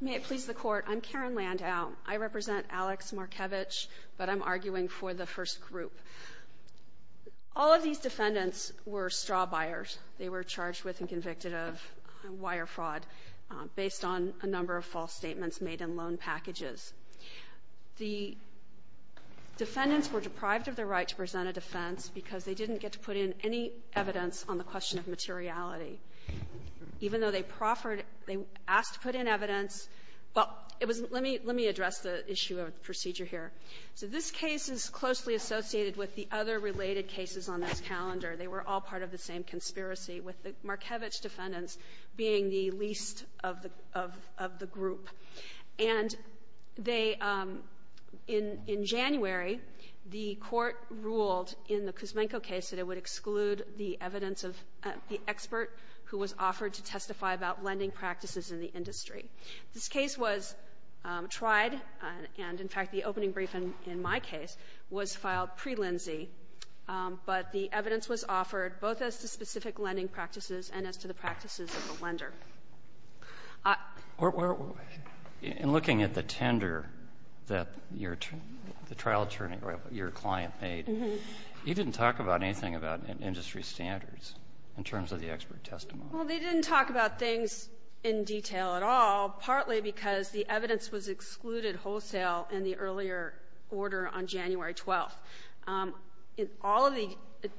May I please the court? I'm Karen Landau. I represent Alex Markevich, but I'm arguing for the first group. All of these defendants were straw buyers. They were charged with and convicted of wire fraud based on a number of false statements made in loan packages. The defendants were deprived of the right to present a defense because they didn't get to put in any evidence on the question of Well, it was let me let me address the issue of procedure here. So this case is closely associated with the other related cases on this calendar. They were all part of the same conspiracy, with the Markevich defendants being the least of the of the group. And they in in January, the Court ruled in the Kuzmenko case that it would exclude the evidence of the expert who was offered to testify about lending practices in the industry. This case was tried, and in fact, the opening brief in my case was filed pre-Lindsay, but the evidence was offered both as to specific lending practices and as to the practices of the lender. In looking at the tender that your the trial attorney, your client made, you didn't talk about anything about industry standards in terms of the expert testimony. Well, they didn't talk about things in detail at all, partly because the evidence was excluded wholesale in the earlier order on January 12th. All of the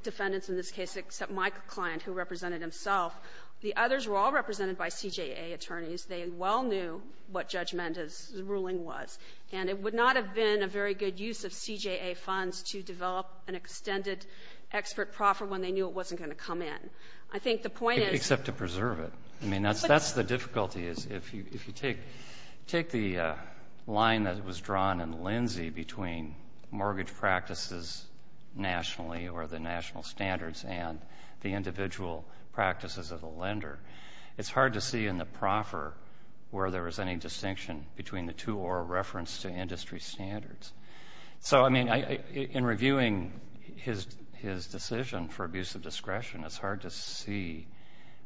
defendants in this case, except my client who represented himself, the others were all represented by CJA attorneys. They well knew what Judge Mendez's ruling was. And it would not have been a very good use of CJA funds to develop an extended expert proffer when they knew it wasn't going to come in. I think the point is — Except to preserve it. I mean, that's the difficulty, is if you take the line that was drawn in Lindsay between mortgage practices nationally or the national standards and the individual practices of the lender, it's hard to see in the proffer where there was any distinction between the two or a reference to industry standards. So, I mean, in reviewing his decision for abuse of discretion, it's hard to see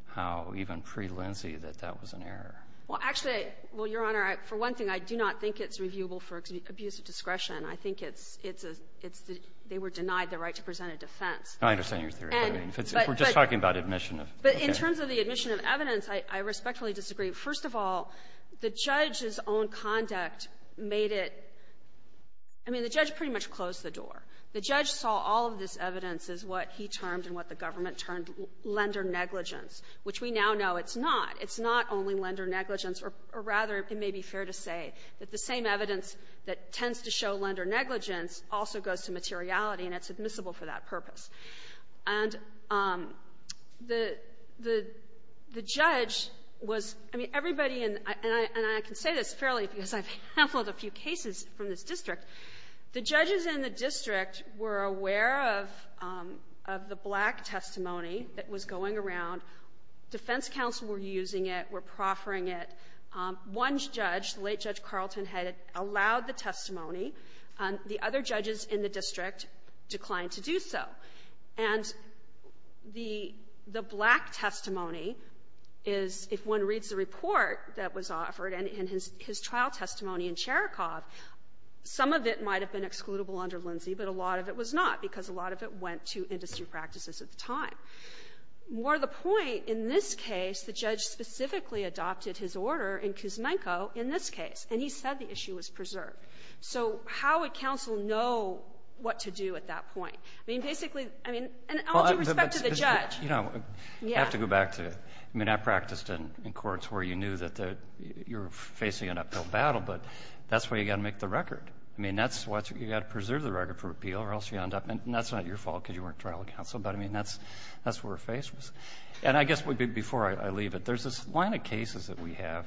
how even pre-Lindsay that that was an error. Well, actually, well, Your Honor, for one thing, I do not think it's reviewable for abuse of discretion. I think it's a — it's the — they were denied the right to present a defense. I understand your theory, but if it's — if we're just talking about admission of — But in terms of the admission of evidence, I respectfully disagree. First of all, the judge's own conduct made it — I mean, the judge pretty much closed the door. The judge saw all of this evidence as what he termed and what the government termed lender negligence, which we now know it's not. It's not only lender negligence, or rather, it may be fair to say that the same evidence that tends to show lender negligence also goes to materiality, and it's admissible for that purpose. And the — the judge was — I mean, everybody in — and I can say this fairly because I've handled a few cases from this district. The judges in the district were aware of the black testimony that was going around. Defense counsel were using it, were proffering it. One judge, the late Judge Carlton, had allowed the testimony. The other judges in the district declined to do so. And the — the black testimony is, if one reads the report that was offered and his trial testimony in Cherikov, some of it might have been excludable under Lindsay, but a lot of it was not because a lot of it went to industry practices at the time. More the point, in this case, the judge specifically adopted his order in Kuzmenko in this case, and he said the issue was preserved. So how would counsel know what to do at that point? I mean, basically, I mean, in all due respect to the judge, yeah. Kneedler, I have to go back to — I mean, I practiced in courts where you knew that the — you were facing an uphill battle, but that's where you got to make the record. I mean, that's what's — you got to preserve the record for appeal or else you end up — and that's not your fault because you weren't trial counsel, but I mean, that's where her face was. And I guess before I leave it, there's this line of cases that we have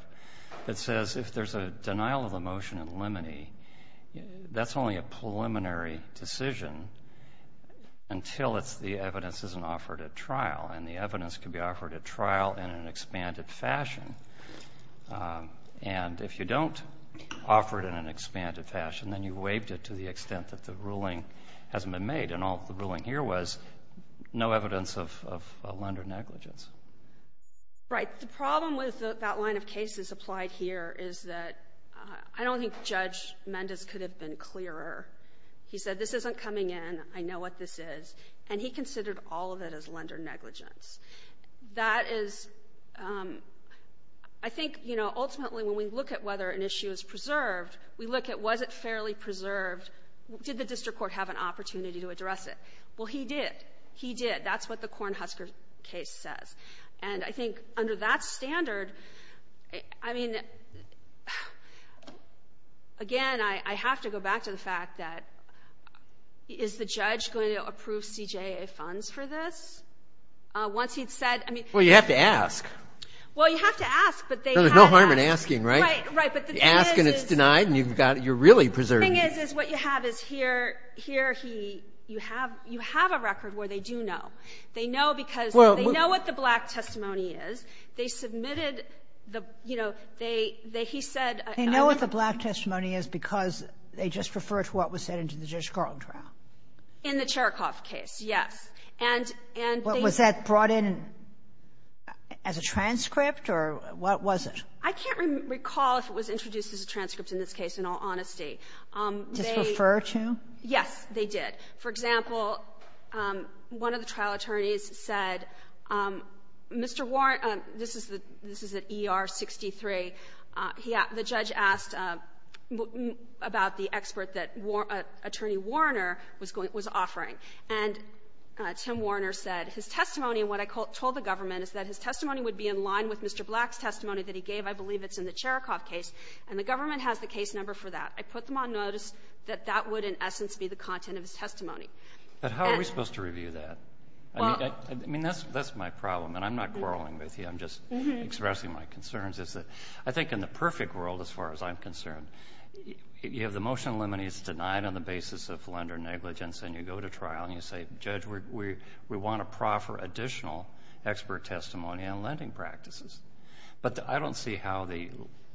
that says if there's a denial of the motion in limine, that's only a preliminary decision until it's — the evidence isn't offered at trial, and the evidence can be offered at trial in an expanded fashion. And if you don't offer it in an expanded fashion, then you waived it to the extent that the ruling hasn't been made, and all the ruling here was no evidence of lender negligence. Right. The problem with that line of cases applied here is that I don't think Judge Mendez could have been clearer. He said this isn't coming in, I know what this is, and he considered all of it as lender negligence. That is — I think, you know, ultimately when we look at whether an issue is preserved, we look at was it fairly preserved, did the district court have an opportunity to address it. Well, he did. He did. That's what the Kornhusker case says. And I think under that standard, I mean, again, I have to go back to the fact that is the judge going to approve CJA funds for this? Once he'd said — Well, you have to ask. Well, you have to ask, but they have to ask. No, there's no harm in asking, right? Right. Right. But the thing is — You ask and it's denied, and you've got — you're really preserving it. The thing is, is what you have is here — here he — you have — you have a record where they do know. They know because — Well — They know what the black testimony is. They submitted the — you know, they — they — he said — They know what the black testimony is because they just refer to what was said in the Judge Garland trial. In the Cherokoff case, yes. And they — Was that brought in as a transcript, or what was it? I can't recall if it was introduced as a transcript in this case, in all honesty. They — Just refer to? Yes. They did. For example, one of the trial attorneys said, Mr. Warren — this is the — this is at ER 63. He — the judge asked about the expert that attorney Warner was going — was offering. And Tim Warner said, his testimony, what I told the government, is that his testimony would be in line with Mr. Black's testimony that he gave. I believe it's in the Cherokoff case, and the government has the case number for that. I put them on notice that that would, in essence, be the content of his testimony. But how are we supposed to review that? Well — I mean, that's — that's my problem, and I'm not quarreling with you. I'm just expressing my concerns. It's that I think in the perfect world, as far as I'm concerned, you have the motion eliminated. It's denied on the basis of lender negligence. And you go to trial, and you say, Judge, we want to proffer additional expert testimony. We want to proffer additional expert testimony on lending practices. But I don't see how the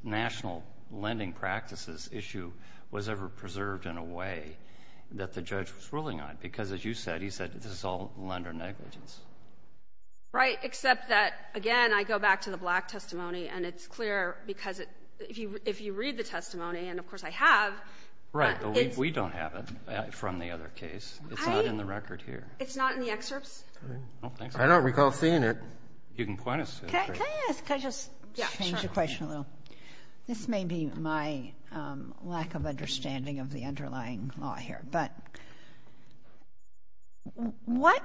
national lending practices issue was ever preserved in a way that the judge was ruling on. Because as you said, he said, this is all lender negligence. Right. Except that, again, I go back to the Black testimony, and it's clear because it — if you — if you read the testimony, and of course I have — Right. But we don't have it from the other case. It's not in the record here. I — it's not in the excerpts. I don't recall seeing it. You can point us to it. Can I ask — can I just change the question a little? Yeah, sure. This may be my lack of understanding of the underlying law here. But what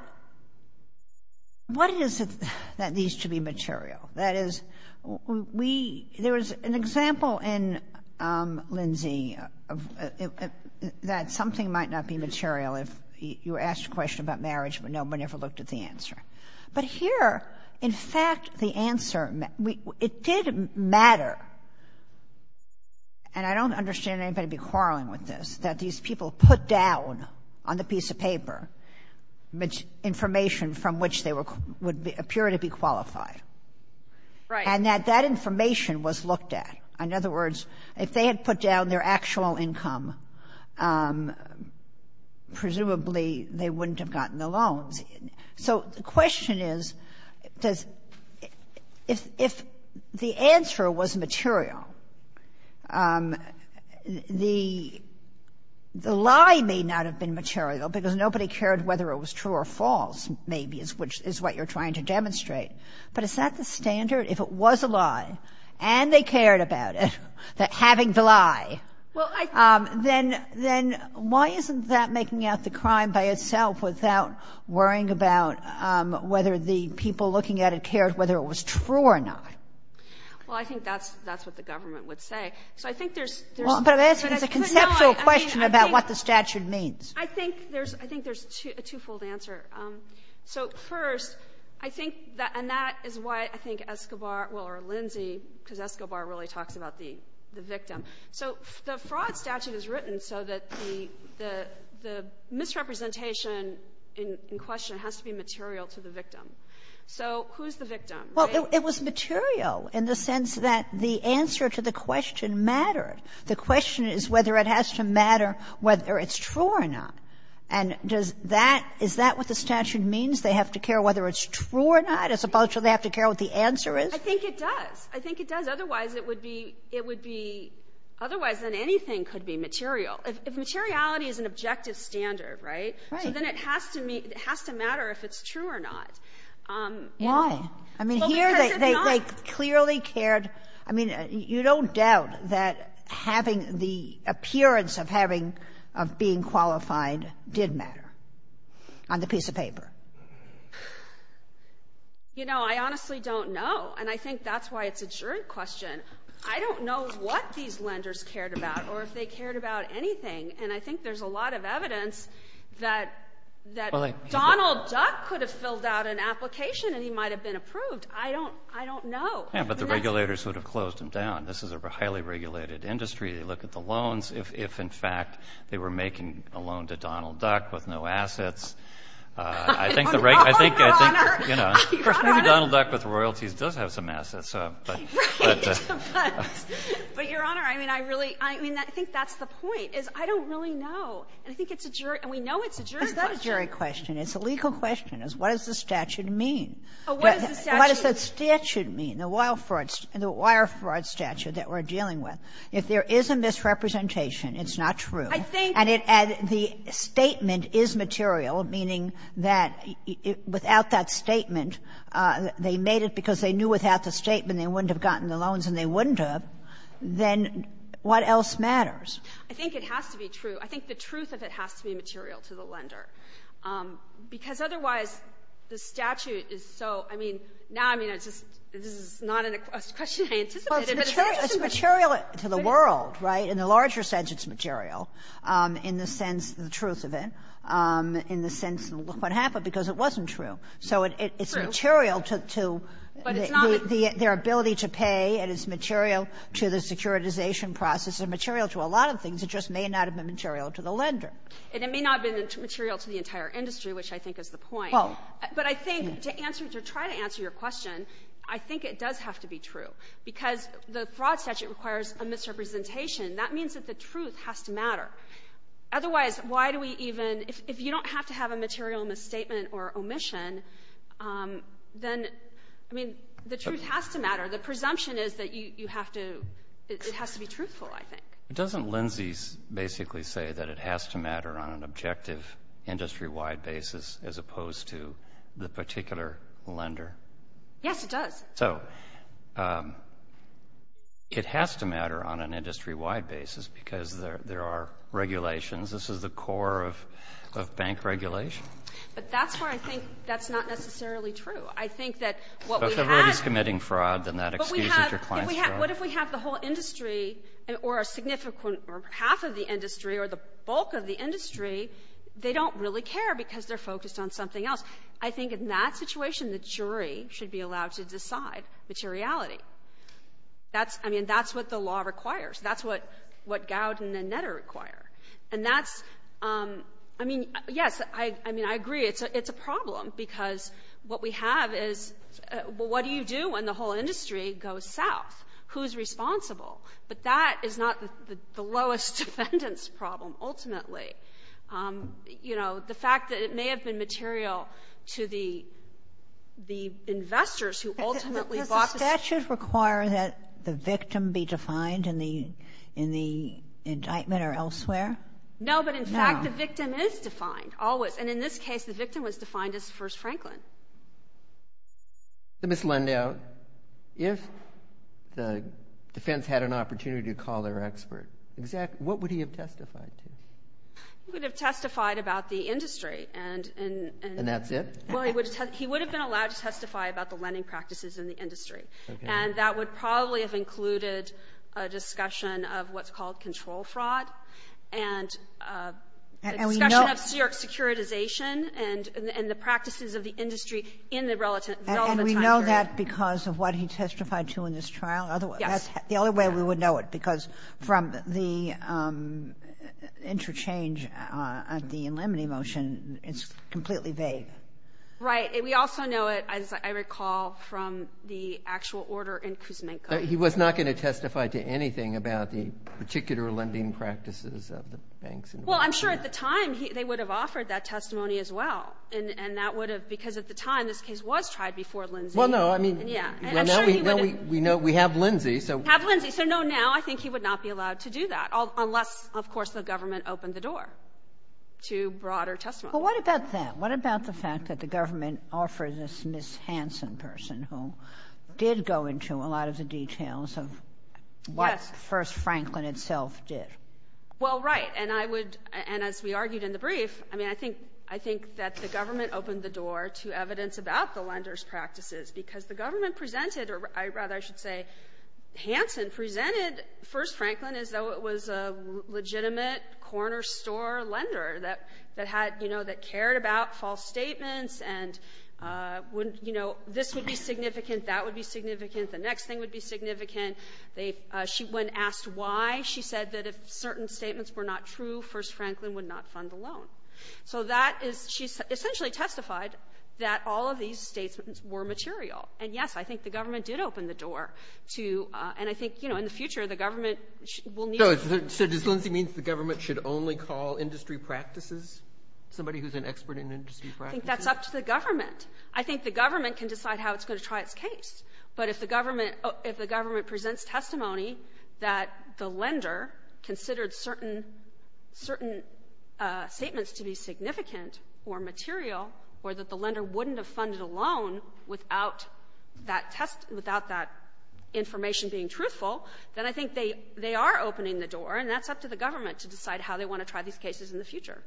— what is it that needs to be material? That is, we — there was an example in Lindsay of — that something might not be material if you asked a question about marriage, but nobody ever looked at the answer. But here, in fact, the answer — it did matter, and I don't understand anybody quarreling with this, that these people put down on the piece of paper information from which they were — would appear to be qualified. Right. And that that information was looked at. In other words, if they had put down their actual income, presumably they wouldn't have gotten the loans. So the question is, does — if the answer was material, the lie may not have been material because nobody cared whether it was true or false, maybe, is what you're trying to demonstrate. But is that the standard? If it was a lie and they cared about it, that having the lie, then why isn't that worrying about whether the people looking at it cared whether it was true or not? Well, I think that's — that's what the government would say. So I think there's — But I'm asking a conceptual question about what the statute means. I think there's — I think there's a twofold answer. So, first, I think that — and that is why I think Escobar — well, or Lindsay, because Escobar really talks about the victim. So the fraud statute is written so that the — the misrepresentation in question has to be material to the victim. So who's the victim, right? Well, it was material in the sense that the answer to the question mattered. The question is whether it has to matter whether it's true or not. And does that — is that what the statute means, they have to care whether it's true or not, as opposed to they have to care what the answer is? I think it does. I think it does. Otherwise, it would be — it would be — otherwise, then anything could be material. If materiality is an objective standard, right? Right. So then it has to — it has to matter if it's true or not. Why? I mean, here they clearly cared — I mean, you don't doubt that having the appearance of having — of being qualified did matter on the piece of paper? You know, I honestly don't know. And I think that's why it's a jerk question. I don't know what these lenders cared about or if they cared about anything. And I think there's a lot of evidence that Donald Duck could have filled out an application and he might have been approved. I don't — I don't know. Yeah, but the regulators would have closed him down. This is a highly regulated industry. They look at the loans. If, in fact, they were making a loan to Donald Duck with no assets — I don't know, Your Honor. I don't know. Maybe Donald Duck with royalties does have some assets. Right. But, Your Honor, I mean, I really — I mean, I think that's the point, is I don't really know. And I think it's a jerk — and we know it's a jerk question. It's not a jerk question. It's a legal question. It's what does the statute mean? Oh, what does the statute mean? What does that statute mean, the wire fraud statute that we're dealing with? If there is a misrepresentation, it's not true. I think — And it — and the statement is material, meaning that without that statement, they made it because they knew without the statement they wouldn't have gotten the loans, and they wouldn't have, then what else matters? I think it has to be true. I think the truth of it has to be material to the lender, because otherwise the statute is so — I mean, now, I mean, it's just — this is not a question I anticipated, but it's interesting. Well, it's material to the world, right? In the larger sense, it's material. In the sense, the truth of it. In the sense, what happened, because it wasn't true. So it's material to — True. But it's not — Their ability to pay, it is material to the securitization process. It's material to a lot of things. It just may not have been material to the lender. And it may not have been material to the entire industry, which I think is the point. Well — But I think to answer — to try to answer your question, I think it does have to be true, because the fraud statute requires a misrepresentation. That means that the truth has to matter. Otherwise, why do we even — if you don't have to have a material misstatement or omission, then, I mean, the truth has to matter. The presumption is that you have to — it has to be truthful, I think. But doesn't Lindsay's basically say that it has to matter on an objective, industry-wide basis, as opposed to the particular lender? Yes, it does. So it has to matter on an industry-wide basis, because there are regulations. This is the core of bank regulation. But that's where I think that's not necessarily true. I think that what we have — But if everybody's committing fraud, then that excludes interclient fraud. But we have — what if we have the whole industry, or a significant — or half of the industry, or the bulk of the industry, they don't really care because they're focused on something else? I think in that situation, the jury should be allowed to decide materiality. That's — I mean, that's what the law requires. That's what — what Gowden and Netter require. And that's — I mean, yes, I — I mean, I agree. It's a problem, because what we have is — what do you do when the whole industry goes south? Who's responsible? But that is not the lowest defendants' problem, ultimately. You know, the fact that it may have been material to the — the investors who ultimately bought the — Does the statute require that the victim be defined in the — in the indictment, or elsewhere? No. No. No, but in fact, the victim is defined, always. And in this case, the victim was defined as First Franklin. So, Ms. Lendow, if the defense had an opportunity to call their expert, what would he have testified to? He would have testified about the industry. And — And that's it? Well, he would have — he would have been allowed to testify about the lending practices in the industry. Okay. And that would probably have included a discussion of what's called control fraud and — And we know — A discussion of securitization and — and the practices of the industry in the relevant time period. And we know that because of what he testified to in this trial? Yes. That's the only way we would know it, because from the interchange at the Inlemany motion, it's completely vague. Right. We also know it, as I recall, from the actual order in Kuzmenko. He was not going to testify to anything about the particular lending practices of the banks in Russia? Well, I'm sure at the time, they would have offered that testimony as well. And that would have — because at the time, this case was tried before Lindsay. Well, no. I mean — Yeah. And I'm sure he would have — Well, now we know — we have Lindsay, so — We have Lindsay. So, no, now I think he would not be allowed to do that, unless, of course, the government opened the door to broader testimony. Well, what about that? What about the fact that the government offered this Ms. Hansen person, who did go into a lot of the details of what — Yes. — First Franklin itself did? Well, right. I think the government opened the door to evidence about the lenders' practices because the government presented — or, rather, I should say, Hansen presented First Franklin as though it was a legitimate corner store lender that had — you know, that cared about false statements and, you know, this would be significant, that would be significant, the next thing would be significant. They — when asked why, she said that if certain statements were not true, First Franklin essentially testified that all of these statements were material. And, yes, I think the government did open the door to — and I think, you know, in the future, the government will need — So does Lindsay mean that the government should only call industry practices somebody who's an expert in industry practices? I think that's up to the government. I think the government can decide how it's going to try its case. But if the government — if the government presents testimony that the lender considered certain — certain statements to be significant or material or that the lender wouldn't have funded a loan without that test — without that information being truthful, then I think they are opening the door, and that's up to the government to decide how they want to try these cases in the future.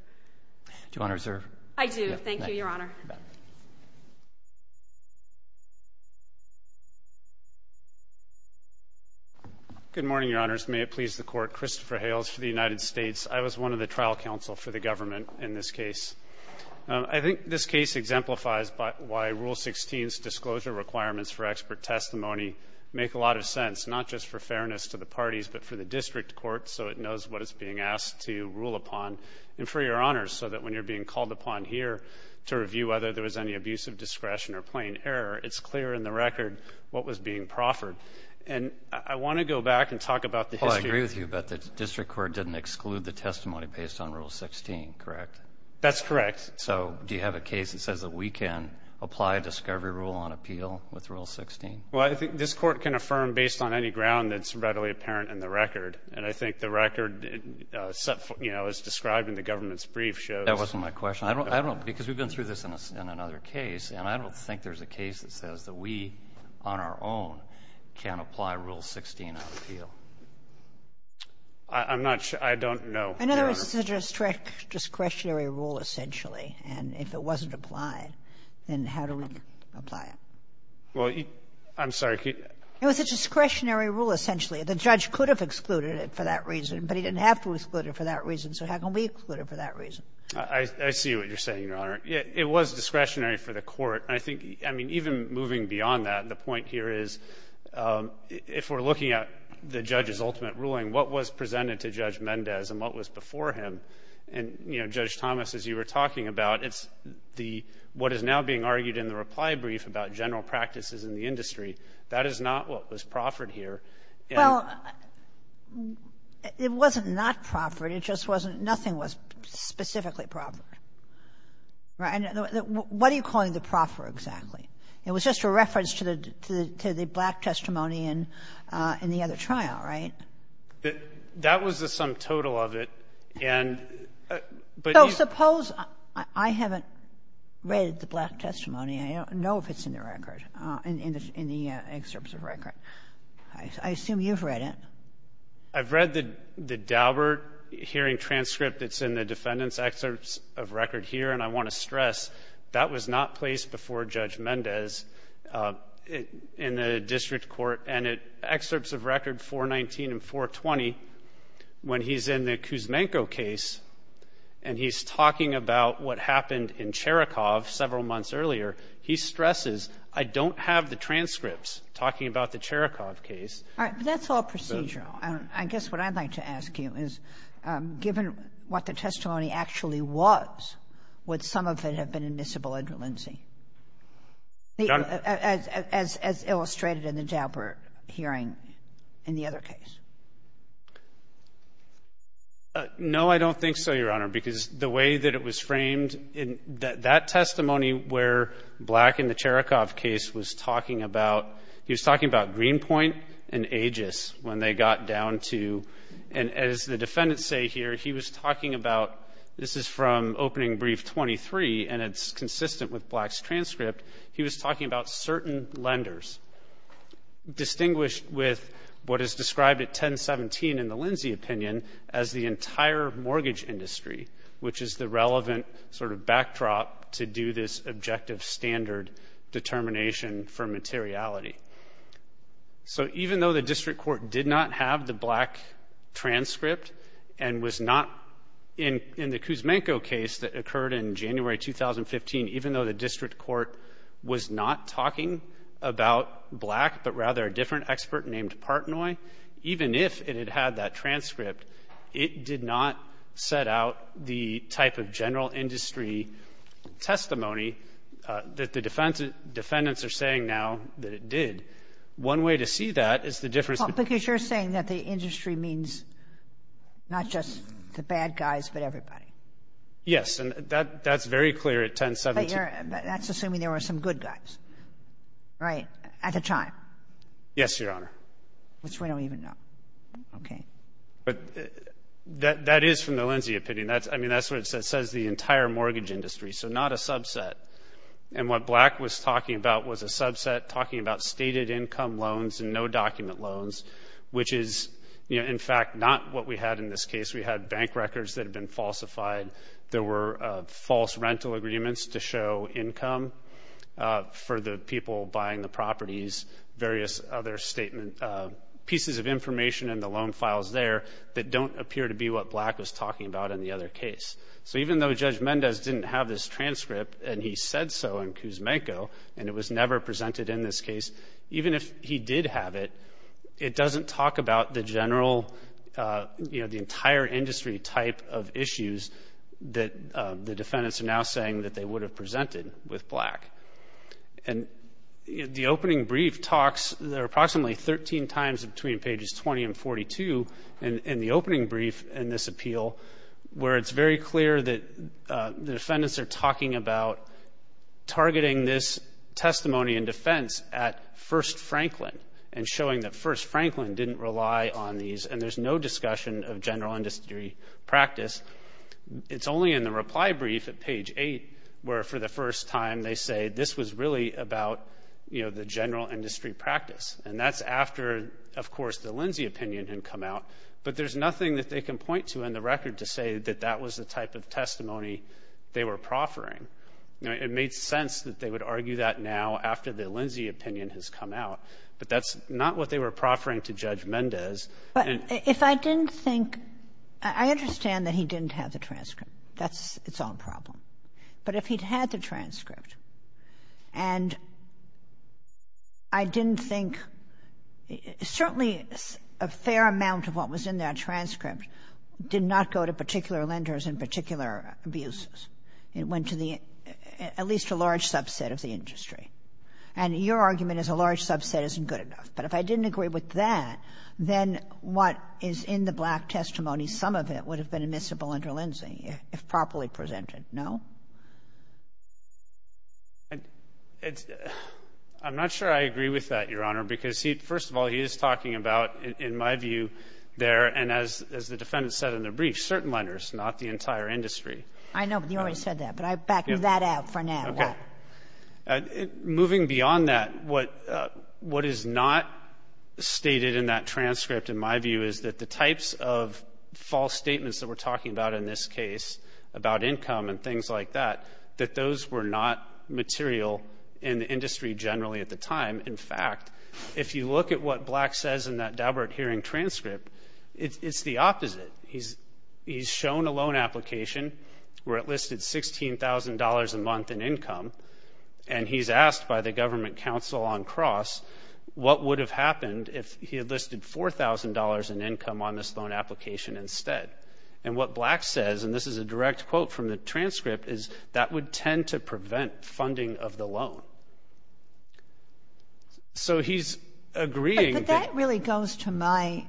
Do you want to reserve? Thank you, Your Honor. Good morning, Your Honors. May it please the Court. Christopher Hales for the United States. I was one of the trial counsel for the government in this case. I think this case exemplifies why Rule 16's disclosure requirements for expert testimony make a lot of sense, not just for fairness to the parties, but for the district court so it knows what it's being asked to rule upon, and for Your Honors, so that when you're being called upon here to review whether there was any abusive discretion or plain error, it's clear in the record what was being proffered. And I want to go back and talk about the history — Well, I agree with you, but the district court didn't exclude the testimony based on Rule 16, correct? That's correct. So do you have a case that says that we can apply a discovery rule on appeal with Rule 16? Well, I think this court can affirm based on any ground that's readily apparent in the record. And I think the record, you know, as described in the government's brief shows — That wasn't my question. I don't know, because we've been through this in another case, and I don't think there's a case that says that we on our own can apply Rule 16 on appeal. I'm not sure. I don't know, Your Honor. In other words, it's a discretionary rule essentially, and if it wasn't applied, then how do we apply it? Well, I'm sorry. It was a discretionary rule essentially. The judge could have excluded it for that reason, but he didn't have to exclude it for that reason, so how can we exclude it for that reason? I see what you're saying, Your Honor. It was discretionary for the court. I think, I mean, even moving beyond that, the point here is if we're looking at the judge's ultimate ruling, what was presented to Judge Mendez and what was before him, and, you know, Judge Thomas, as you were talking about, it's the — what is now being argued in the reply brief about general practices in the industry. That is not what was proffered here. Well, it wasn't not proffered. It just wasn't — nothing was specifically proffered. Right? What are you calling the proffer exactly? It was just a reference to the black testimony in the other trial, right? That was the sum total of it, and — So suppose I haven't read the black testimony. I don't know if it's in the record, in the excerpts of record. I assume you've read it. I've read the Daubert hearing transcript that's in the defendant's excerpts of record here. And I want to stress, that was not placed before Judge Mendez in the district court. And in excerpts of record 419 and 420, when he's in the Kuzmenko case and he's talking about what happened in Cherokov several months earlier, he stresses, I don't have the transcripts talking about the Cherokov case. But that's all procedural. I guess what I'd like to ask you is, given what the testimony actually was, would some of it have been admissible under Lindsay, as illustrated in the Daubert hearing in the other case? No, I don't think so, Your Honor, because the way that it was framed in that testimony where Black in the Cherokov case was talking about, he was talking about Greenpoint and Aegis when they got down to, and as the defendants say here, he was talking about, this is from opening brief 23, and it's consistent with Black's transcript. He was talking about certain lenders, distinguished with what is described at 1017 in the Lindsay opinion as the entire mortgage industry, which is the relevant sort of backdrop to do this objective standard determination for materiality. So even though the district court did not have the Black transcript and was not in the Kuzmenko case that occurred in January 2015, even though the district court was not talking about Black, but rather a different expert named Partnoy, even if it had that transcript, it did not set out the type of general industry testimony that the defendants are saying now that it did. One way to see that is the difference. Well, because you're saying that the industry means not just the bad guys, but everybody. Yes. And that's very clear at 1017. But that's assuming there were some good guys, right, at the time. Yes, Your Honor. Which we don't even know. Okay. But that is from the Lindsay opinion. I mean, that's what it says. It says the entire mortgage industry, so not a subset. And what Black was talking about was a subset talking about stated income loans and no document loans, which is, you know, in fact, not what we had in this case. We had bank records that had been falsified. There were false rental agreements to show income for the people buying the properties, various other statement pieces of information in the loan files there that don't appear to be what Black was talking about in the other case. So even though Judge Mendez didn't have this transcript and he said so in Kuzmenko and it was never presented in this case, even if he did have it, it doesn't talk about the general, you know, the entire industry type of issues that the defendants are now saying that they would have presented with Black. And the opening brief talks, they're approximately 13 times between pages 20 and 42, in the opening brief in this appeal, where it's very clear that the defendants are talking about targeting this testimony in defense at First Franklin and showing that First Franklin didn't rely on these and there's no discussion of general industry practice. It's only in the reply brief at page 8 where, for the first time, they say this was really about, you know, the general industry practice. And that's after, of course, the Lindsay opinion had come out. But there's nothing that they can point to in the record to say that that was the type of testimony they were proffering. You know, it made sense that they would argue that now after the Lindsay opinion has come out. But that's not what they were proffering to Judge Mendez. And — Kagan. But if I didn't think — I understand that he didn't have the transcript. That's its own problem. But if he'd had the transcript and I didn't think — certainly a fair amount of what was in that transcript did not go to particular lenders and particular abusers. It went to the — at least a large subset of the industry. And your argument is a large subset isn't good enough. But if I didn't agree with that, then what is in the black testimony, some of it would have been admissible under Lindsay if properly presented. No? I'm not sure I agree with that, Your Honor, because he — first of all, he is talking about, in my view, their — and as the defendant said in the brief, certain lenders, not the entire industry. I know, but he already said that. But I back that out for now. Okay. Moving beyond that, what is not stated in that transcript, in my view, is that the types of false statements that we're talking about in this case, about income and things like that, that those were not material in the industry generally at the time. In fact, if you look at what Black says in that Daubert hearing transcript, it's the opposite. He's shown a loan application where it listed $16,000 a month in income, and he's asked by the government counsel on cross what would have happened if he had listed $4,000 in income on this loan application instead. And what Black says, and this is a direct quote from the transcript, is that would tend to prevent funding of the loan. So he's agreeing that — But that really goes to my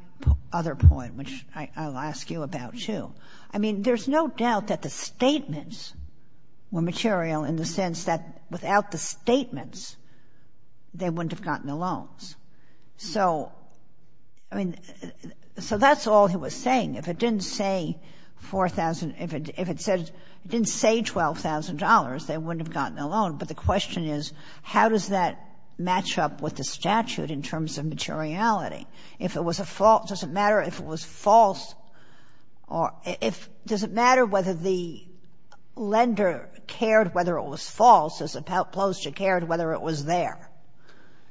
other point, which I'll ask you about, too. I mean, there's no doubt that the statements were material in the sense that without the statements, they wouldn't have gotten the loans. So, I mean, so that's all he was saying. If it didn't say 4,000 — if it said — if it didn't say $12,000, they wouldn't have gotten the loan. But the question is, how does that match up with the statute in terms of materiality? If it was a false — does it matter if it was false or — does it matter whether the lender cared whether it was false as opposed to cared whether it was there?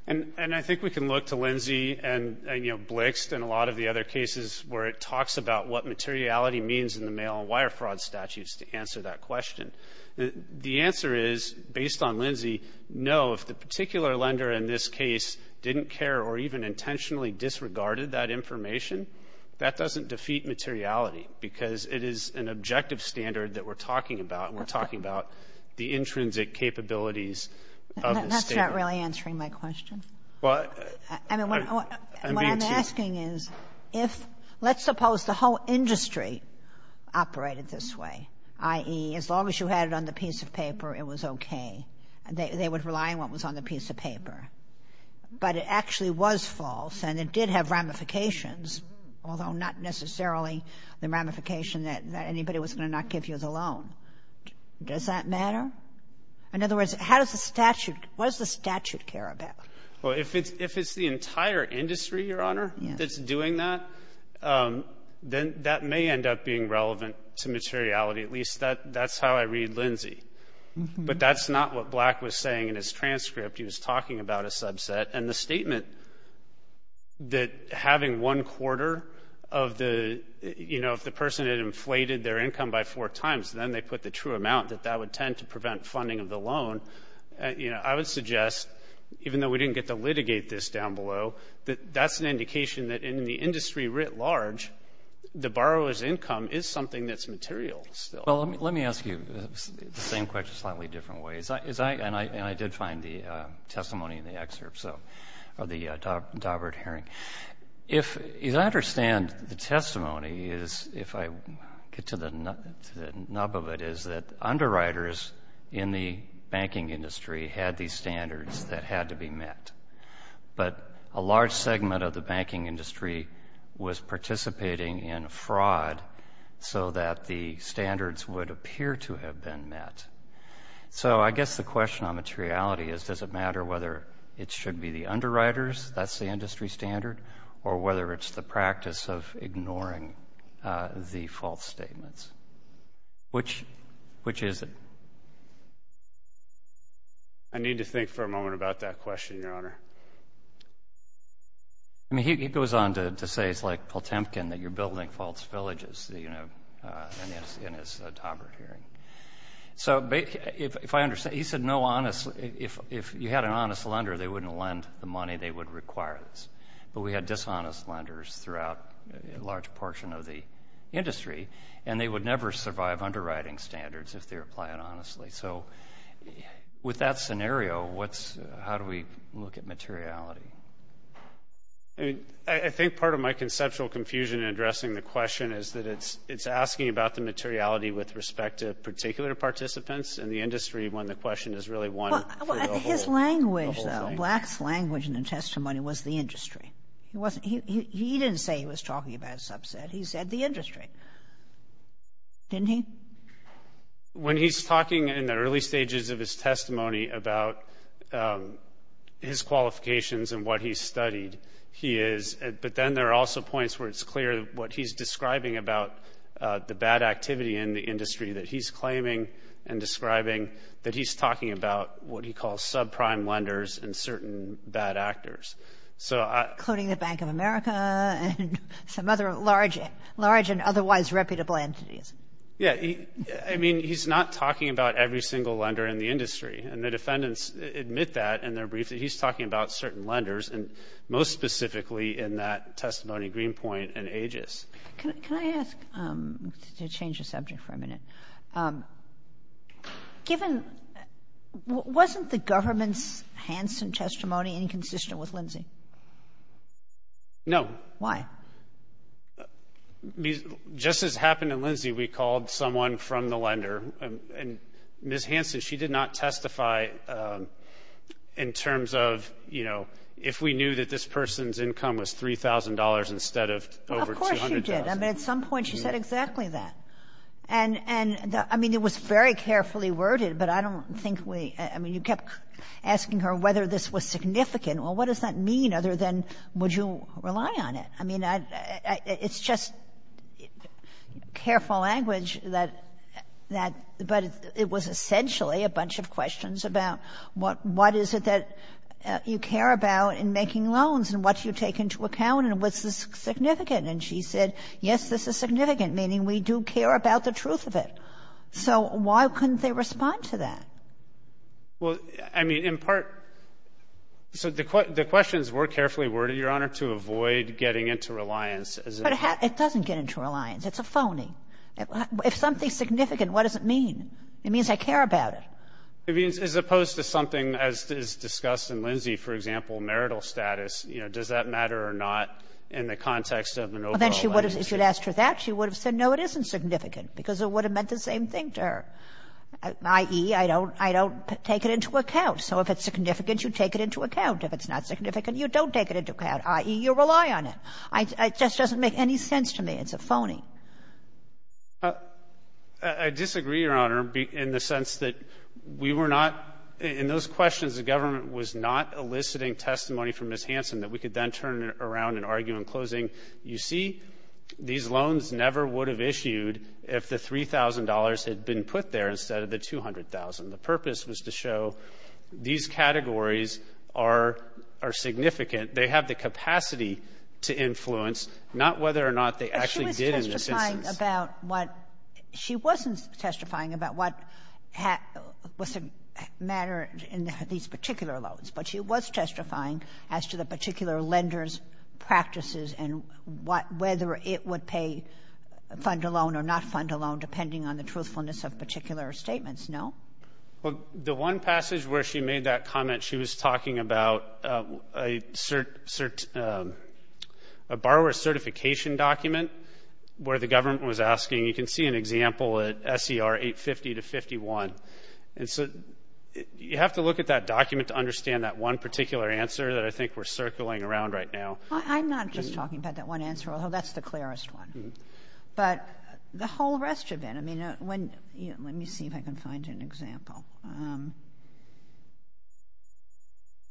And I think we can look to Lindsay and, you know, Blixt and a lot of the other cases where it talks about what materiality means in the mail and wire fraud statutes to answer that question. The answer is, based on Lindsay, no, if the particular lender in this case didn't care or even intentionally disregarded that information, that doesn't defeat materiality because it is an objective standard that we're talking about, and we're talking about the intrinsic capabilities of the standard. That's not really answering my question. Well, I'm being too — I mean, what I'm asking is, if — let's suppose the whole industry operated this way, i.e., as long as you had it on the piece of paper, it was okay. They would rely on what was on the piece of paper. But it actually was false, and it did have ramifications, although not necessarily the ramification that anybody was going to not give you the loan. Does that matter? In other words, how does the statute — what does the statute care about? Well, if it's the entire industry, Your Honor, that's doing that, then that may end up being relevant to materiality. At least that's how I read Lindsay. But that's not what Black was saying in his transcript. He was talking about a subset. And the statement that having one-quarter of the — you know, if the person had inflated their income by four times, then they put the true amount, that that would tend to prevent funding of the loan. You know, I would suggest, even though we didn't get to litigate this down below, that that's an indication that in the industry writ large, the borrower's income is something that's material still. Well, let me ask you the same question a slightly different way. And I did find the testimony in the excerpt, so — or the Daubert hearing. If I understand the testimony is, if I get to the nub of it, is that underwriters in the banking industry had these standards that had to be met. But a large segment of the banking industry was participating in fraud so that the standards would appear to have been met. So I guess the question on materiality is, does it matter whether it should be the standard or whether it's the practice of ignoring the false statements? Which is it? I need to think for a moment about that question, Your Honor. I mean, he goes on to say it's like Potemkin, that you're building false villages, you know, in his Daubert hearing. So if I understand — he said no honest — if you had an honest lender, they wouldn't lend the money they would require this. But we had dishonest lenders throughout a large portion of the industry, and they would never survive underwriting standards if they're applying honestly. So with that scenario, what's — how do we look at materiality? I mean, I think part of my conceptual confusion in addressing the question is that it's asking about the materiality with respect to particular participants in the industry when the question is really one — Well, his language, though, Black's language in the testimony was the industry. He wasn't — he didn't say he was talking about a subset. He said the industry. Didn't he? When he's talking in the early stages of his testimony about his qualifications and what he studied, he is — but then there are also points where it's clear what he's describing about the bad activity in the industry that he's claiming and describing, that he's talking about what he calls subprime lenders and certain bad actors. So I — Including the Bank of America and some other large and otherwise reputable entities. Yeah. I mean, he's not talking about every single lender in the industry. And the defendants admit that in their brief that he's talking about certain lenders, and most specifically in that testimony, Greenpoint and Aegis. Can I ask — to change the subject for a minute. Given — wasn't the government's Hansen testimony inconsistent with Lindsey? No. Why? Just as happened in Lindsey, we called someone from the lender, and Ms. Hansen, she did not testify in terms of, you know, if we knew that this person's income was $3,000 instead of over $200,000. Of course she did. I mean, at some point she said exactly that. And — and, I mean, it was very carefully worded, but I don't think we — I mean, you kept asking her whether this was significant. Well, what does that mean, other than would you rely on it? I mean, it's just careful language that — that — but it was essentially a bunch of questions about what — what is it that you care about in making loans and what you take into account and what's significant. And she said, yes, this is significant, meaning we do care about the truth of it. So why couldn't they respond to that? Well, I mean, in part — so the questions were carefully worded, Your Honor, to avoid getting into reliance. But it doesn't get into reliance. It's a phony. If something's significant, what does it mean? It means I care about it. I mean, as opposed to something, as is discussed in Lindsay, for example, marital status, you know, does that matter or not in the context of an overall relationship? Well, then she would have — if you'd asked her that, she would have said, no, it isn't significant, because it would have meant the same thing to her, i.e., I don't — I don't take it into account. So if it's significant, you take it into account. If it's not significant, you don't take it into account, i.e., you rely on it. It just doesn't make any sense to me. It's a phony. I disagree, Your Honor, in the sense that we were not — in those questions, the government was not eliciting testimony from Ms. Hansen that we could then turn around and argue in closing, you see, these loans never would have issued if the $3,000 had been put there instead of the $200,000. The purpose was to show these categories are — are significant. They have the capacity to influence, not whether or not they actually did in this instance. But she was testifying about what — she wasn't testifying about what was the matter in these particular loans, but she was testifying as to the particular lender's practices and what — whether it would pay — fund a loan or not fund a loan, depending on the truthfulness of particular statements, no? Well, the one passage where she made that comment, she was talking about a borrower certification document where the government was asking — you can see an example at SER 850-51. And so you have to look at that document to understand that one particular answer that I think we're circling around right now. I'm not just talking about that one answer, although that's the clearest one. But the whole rest of it, I mean, when — let me see if I can find an example.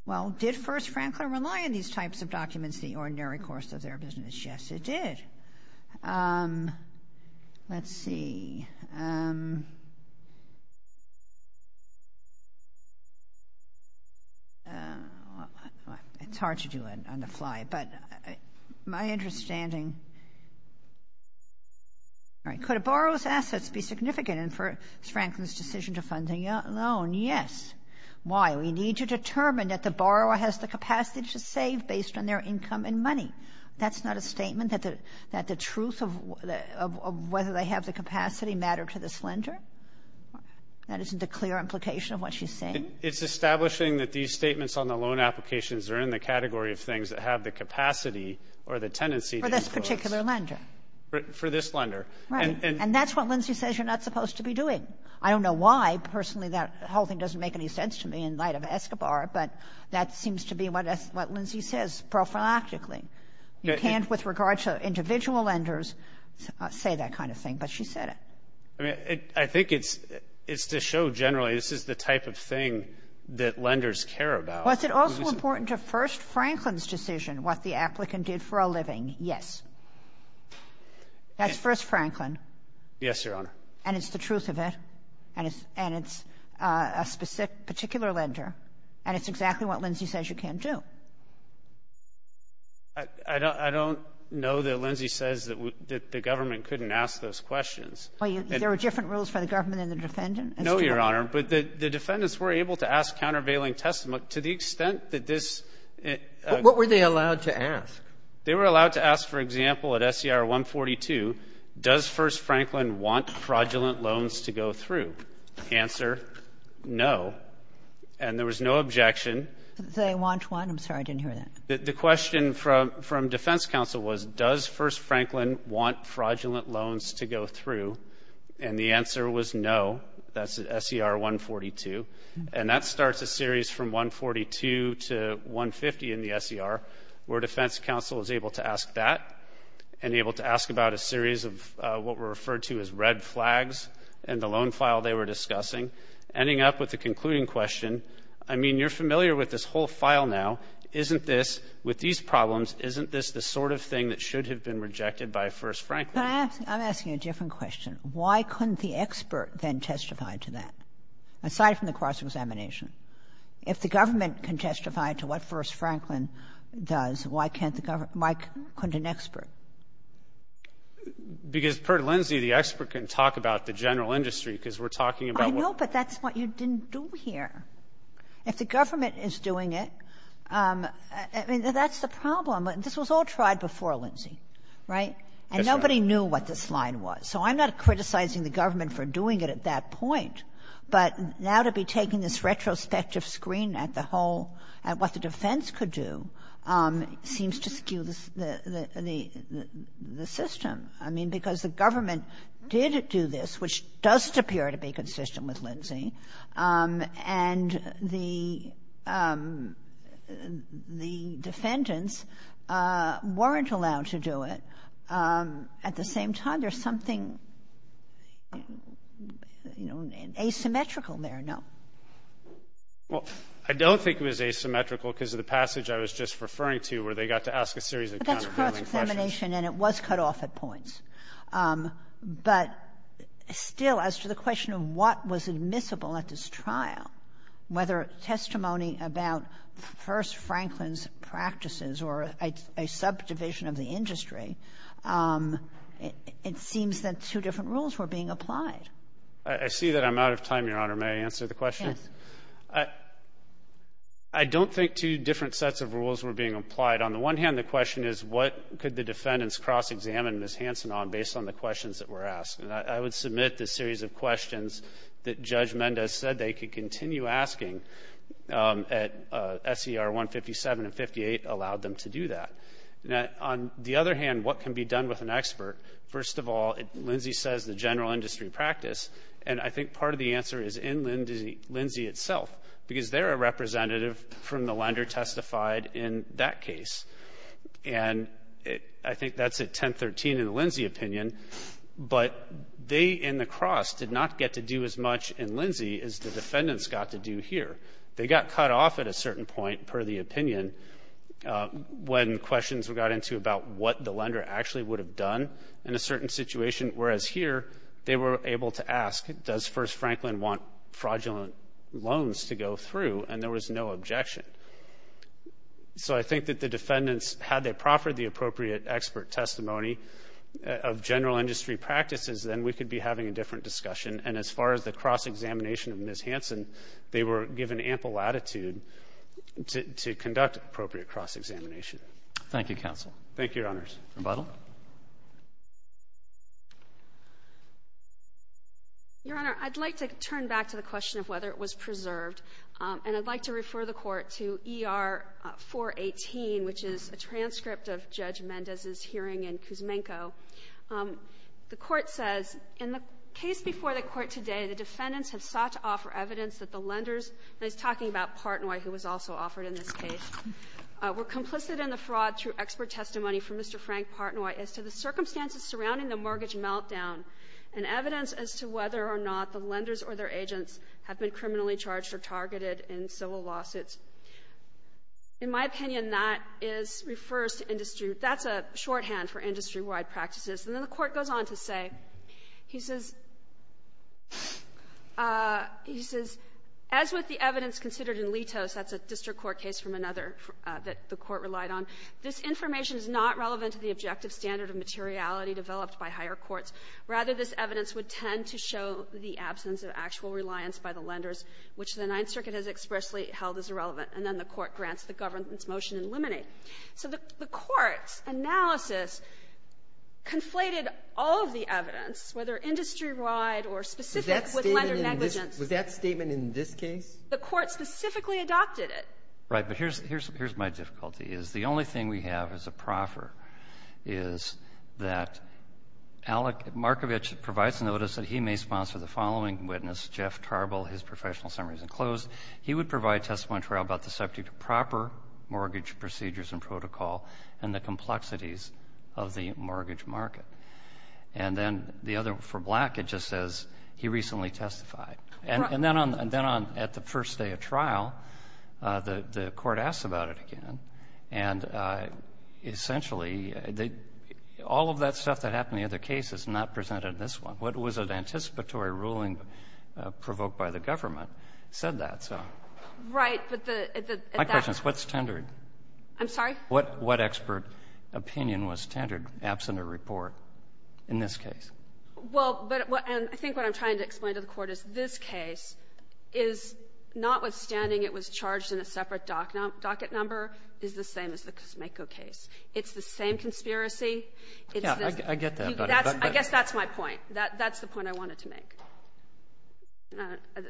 Well, did First Franklin rely on these types of documents the ordinary course of their business? Yes, it did. Let's see. It's hard to do it on the fly, but my understanding — all right. Could a borrower's assets be significant in First Franklin's decision to fund a loan? Yes. Why? We need to determine that the borrower has the capacity to save based on their income and money. That's not a statement that the truth of whether they have the capacity mattered to this lender? That isn't a clear implication of what she's saying? It's establishing that these statements on the loan applications are in the category of things that have the capacity or the tendency to impose. For this particular lender. For this lender. Right. And that's what Lindsay says you're not supposed to be doing. I don't know why. Personally, that whole thing doesn't make any sense to me in light of Escobar, but that seems to be what Lindsay says prophylactically. You can't with regard to individual lenders say that kind of thing, but she said it. I mean, I think it's to show generally this is the type of thing that lenders care about. Was it also important to First Franklin's decision what the applicant did for a living? Yes. That's First Franklin. Yes, Your Honor. And it's the truth of it. And it's a specific particular lender. And it's exactly what Lindsay says you can't do. I don't know that Lindsay says that the government couldn't ask those questions. Well, there are different rules for the government and the defendant. No, Your Honor. But the defendants were able to ask countervailing testimony to the extent that this ---- What were they allowed to ask? They were allowed to ask, for example, at SER 142, does First Franklin want fraudulent loans to go through? Answer, no. And there was no objection. Did they want one? I'm sorry. I didn't hear that. The question from defense counsel was, does First Franklin want fraudulent loans to go through? And the answer was no. That's at SER 142. And that starts a series from 142 to 150 in the SER where defense counsel is able to ask that and able to ask about a series of what were referred to as red flags in the loan file they were discussing, ending up with the concluding question, I mean, you're familiar with this whole file now. Isn't this, with these problems, isn't this the sort of thing that should have been rejected by First Franklin? I'm asking a different question. Why couldn't the expert then testify to that? Aside from the cross-examination. If the government can testify to what First Franklin does, why can't the government — why couldn't an expert? Because per Lindsay, the expert can talk about the general industry, because we're talking about what — I know, but that's what you didn't do here. If the government is doing it, I mean, that's the problem. This was all tried before, Lindsay, right? Yes, Your Honor. And nobody knew what this line was. So I'm not criticizing the government for doing it at that point, but now to be taking this retrospective screen at the whole, at what the defense could do, seems to skew the system. I mean, because the government did do this, which does appear to be consistent with Lindsay, and the defendants weren't allowed to do it. At the same time, there's something, you know, asymmetrical there, no? Well, I don't think it was asymmetrical because of the passage I was just referring to where they got to ask a series of counterclaiming questions. But that's cross-examination, and it was cut off at points. But still, as to the question of what was admissible at this trial, whether testimony about First Franklin's practices or a subdivision of the industry, it seems that two different rules were being applied. I see that I'm out of time, Your Honor. May I answer the question? Yes. I don't think two different sets of rules were being applied. On the one hand, the question is what could the defendants cross-examine Ms. Hansen on based on the questions that were asked. And I would submit the series of questions that Judge Mendez said they could continue asking at SER 157 and 58 allowed them to do that. On the other hand, what can be done with an expert? First of all, Lindsey says the general industry practice. And I think part of the answer is in Lindsey itself, because they're a representative from the lender testified in that case. And I think that's at 1013 in the Lindsey opinion. But they in the cross did not get to do as much in Lindsey as the defendants got to do here. They got cut off at a certain point per the opinion when questions got into about what the lender actually would have done in a certain situation, whereas here they were able to ask, does First Franklin want fraudulent loans to go through? And there was no objection. So I think that the defendants, had they proffered the appropriate expert testimony of general industry practices, then we could be having a different discussion. And as far as the cross-examination of Ms. Hansen, they were given ample latitude to conduct appropriate cross-examination. Thank you, Counsel. Thank you, Your Honors. Rebuttal. Your Honor, I'd like to turn back to the question of whether it was preserved. And I'd like to refer the Court to ER-418, which is a transcript of Judge Mendez's hearing in Kuzmenko. The Court says, In the case before the Court today, the defendants have sought to offer evidence that the lenders, and he's talking about Partnoy, who was also offered in this case, were complicit in the fraud through expert testimony from Mr. Frank Partnoy as to the circumstances surrounding the mortgage meltdown and evidence as to whether or not the lawsuits. In my opinion, that is, refers to industry. That's a shorthand for industry-wide practices. And then the Court goes on to say, he says, he says, As with the evidence considered in Litos, that's a district court case from another that the Court relied on, this information is not relevant to the objective standard of materiality developed by higher courts. Rather, this evidence would tend to show the absence of actual reliance by the lenders, which the Ninth Circuit has expressly held as irrelevant. And then the Court grants the government's motion in limine. So the Court's analysis conflated all of the evidence, whether industry-wide or specific with lender negligence. Was that statement in this case? The Court specifically adopted it. Right. But here's my difficulty, is the only thing we have as a proffer is that Markovich provides notice that he may sponsor the following witness, Jeff Tarble. His professional summary is enclosed. He would provide testimony to trial about the subject of proper mortgage procedures and protocol and the complexities of the mortgage market. And then the other, for Black, it just says he recently testified. And then on the first day of trial, the Court asks about it again. And essentially, all of that stuff that happened in the other cases is not presented in this one. What was an anticipatory ruling provoked by the government said that. So my question is, what's tendered? I'm sorry? What expert opinion was tendered absent a report in this case? Well, but I think what I'm trying to explain to the Court is this case is, notwithstanding it was charged in a separate docket number, is the same as the Cosmeco case. It's the same conspiracy. Yeah. I get that. I guess that's my point. That's the point I wanted to make.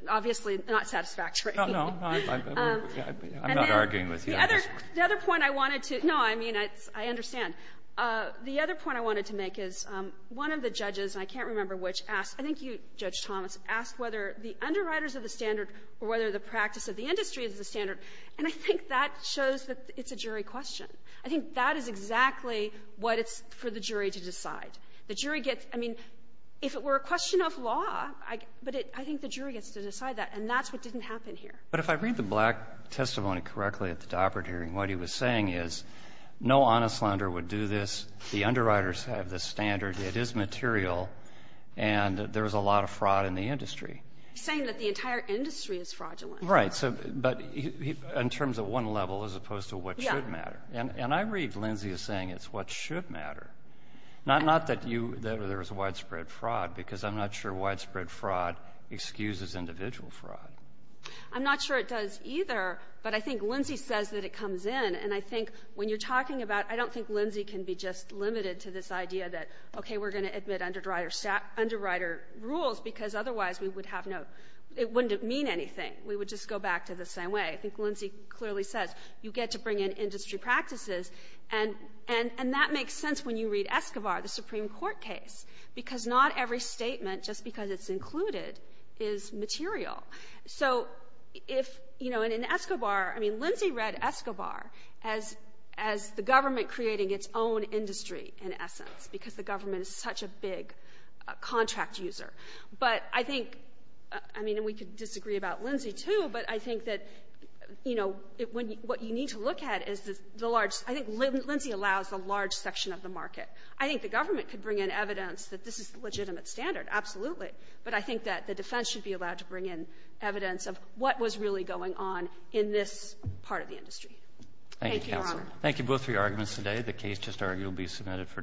Obviously, not satisfactory. No, no. I'm not arguing with you. The other point I wanted to no, I mean, I understand. The other point I wanted to make is one of the judges, and I can't remember which, asked, I think you, Judge Thomas, asked whether the underwriters of the standard or whether the practice of the industry is the standard, and I think that shows that it's a jury question. I think that is exactly what it's for the jury to decide. The jury gets, I mean, if it were a question of law, but I think the jury gets to decide that, and that's what didn't happen here. But if I read the Black testimony correctly at the Daubert hearing, what he was saying is no honest lender would do this, the underwriters have this standard, it is material, and there's a lot of fraud in the industry. He's saying that the entire industry is fraudulent. Right. But in terms of one level as opposed to what should matter. Yeah. And I read Lindsay as saying it's what should matter. Not that you, that there is widespread fraud, because I'm not sure widespread fraud excuses individual fraud. I'm not sure it does either, but I think Lindsay says that it comes in, and I think when you're talking about, I don't think Lindsay can be just limited to this idea that, okay, we're going to admit underwriter rules, because otherwise we would have no, it wouldn't mean anything. We would just go back to the same way. I think Lindsay clearly says you get to bring in industry practices, and that makes sense when you read Escobar, the Supreme Court case, because not every statement, just because it's included, is material. So if, you know, and in Escobar, I mean, Lindsay read Escobar as the government creating its own industry, in essence, because the government is such a big contract user. But I think, I mean, and we could disagree about Lindsay, too, but I think that, you know, what you need to look at is the large, I think Lindsay allows a large section of the market. I think the government could bring in evidence that this is a legitimate standard, absolutely. But I think that the defense should be allowed to bring in evidence of what was really going on in this part of the industry. Thank you, Your Honor. Thank you, counsel. Thank you both for your arguments today. The case just argued will be submitted for decision.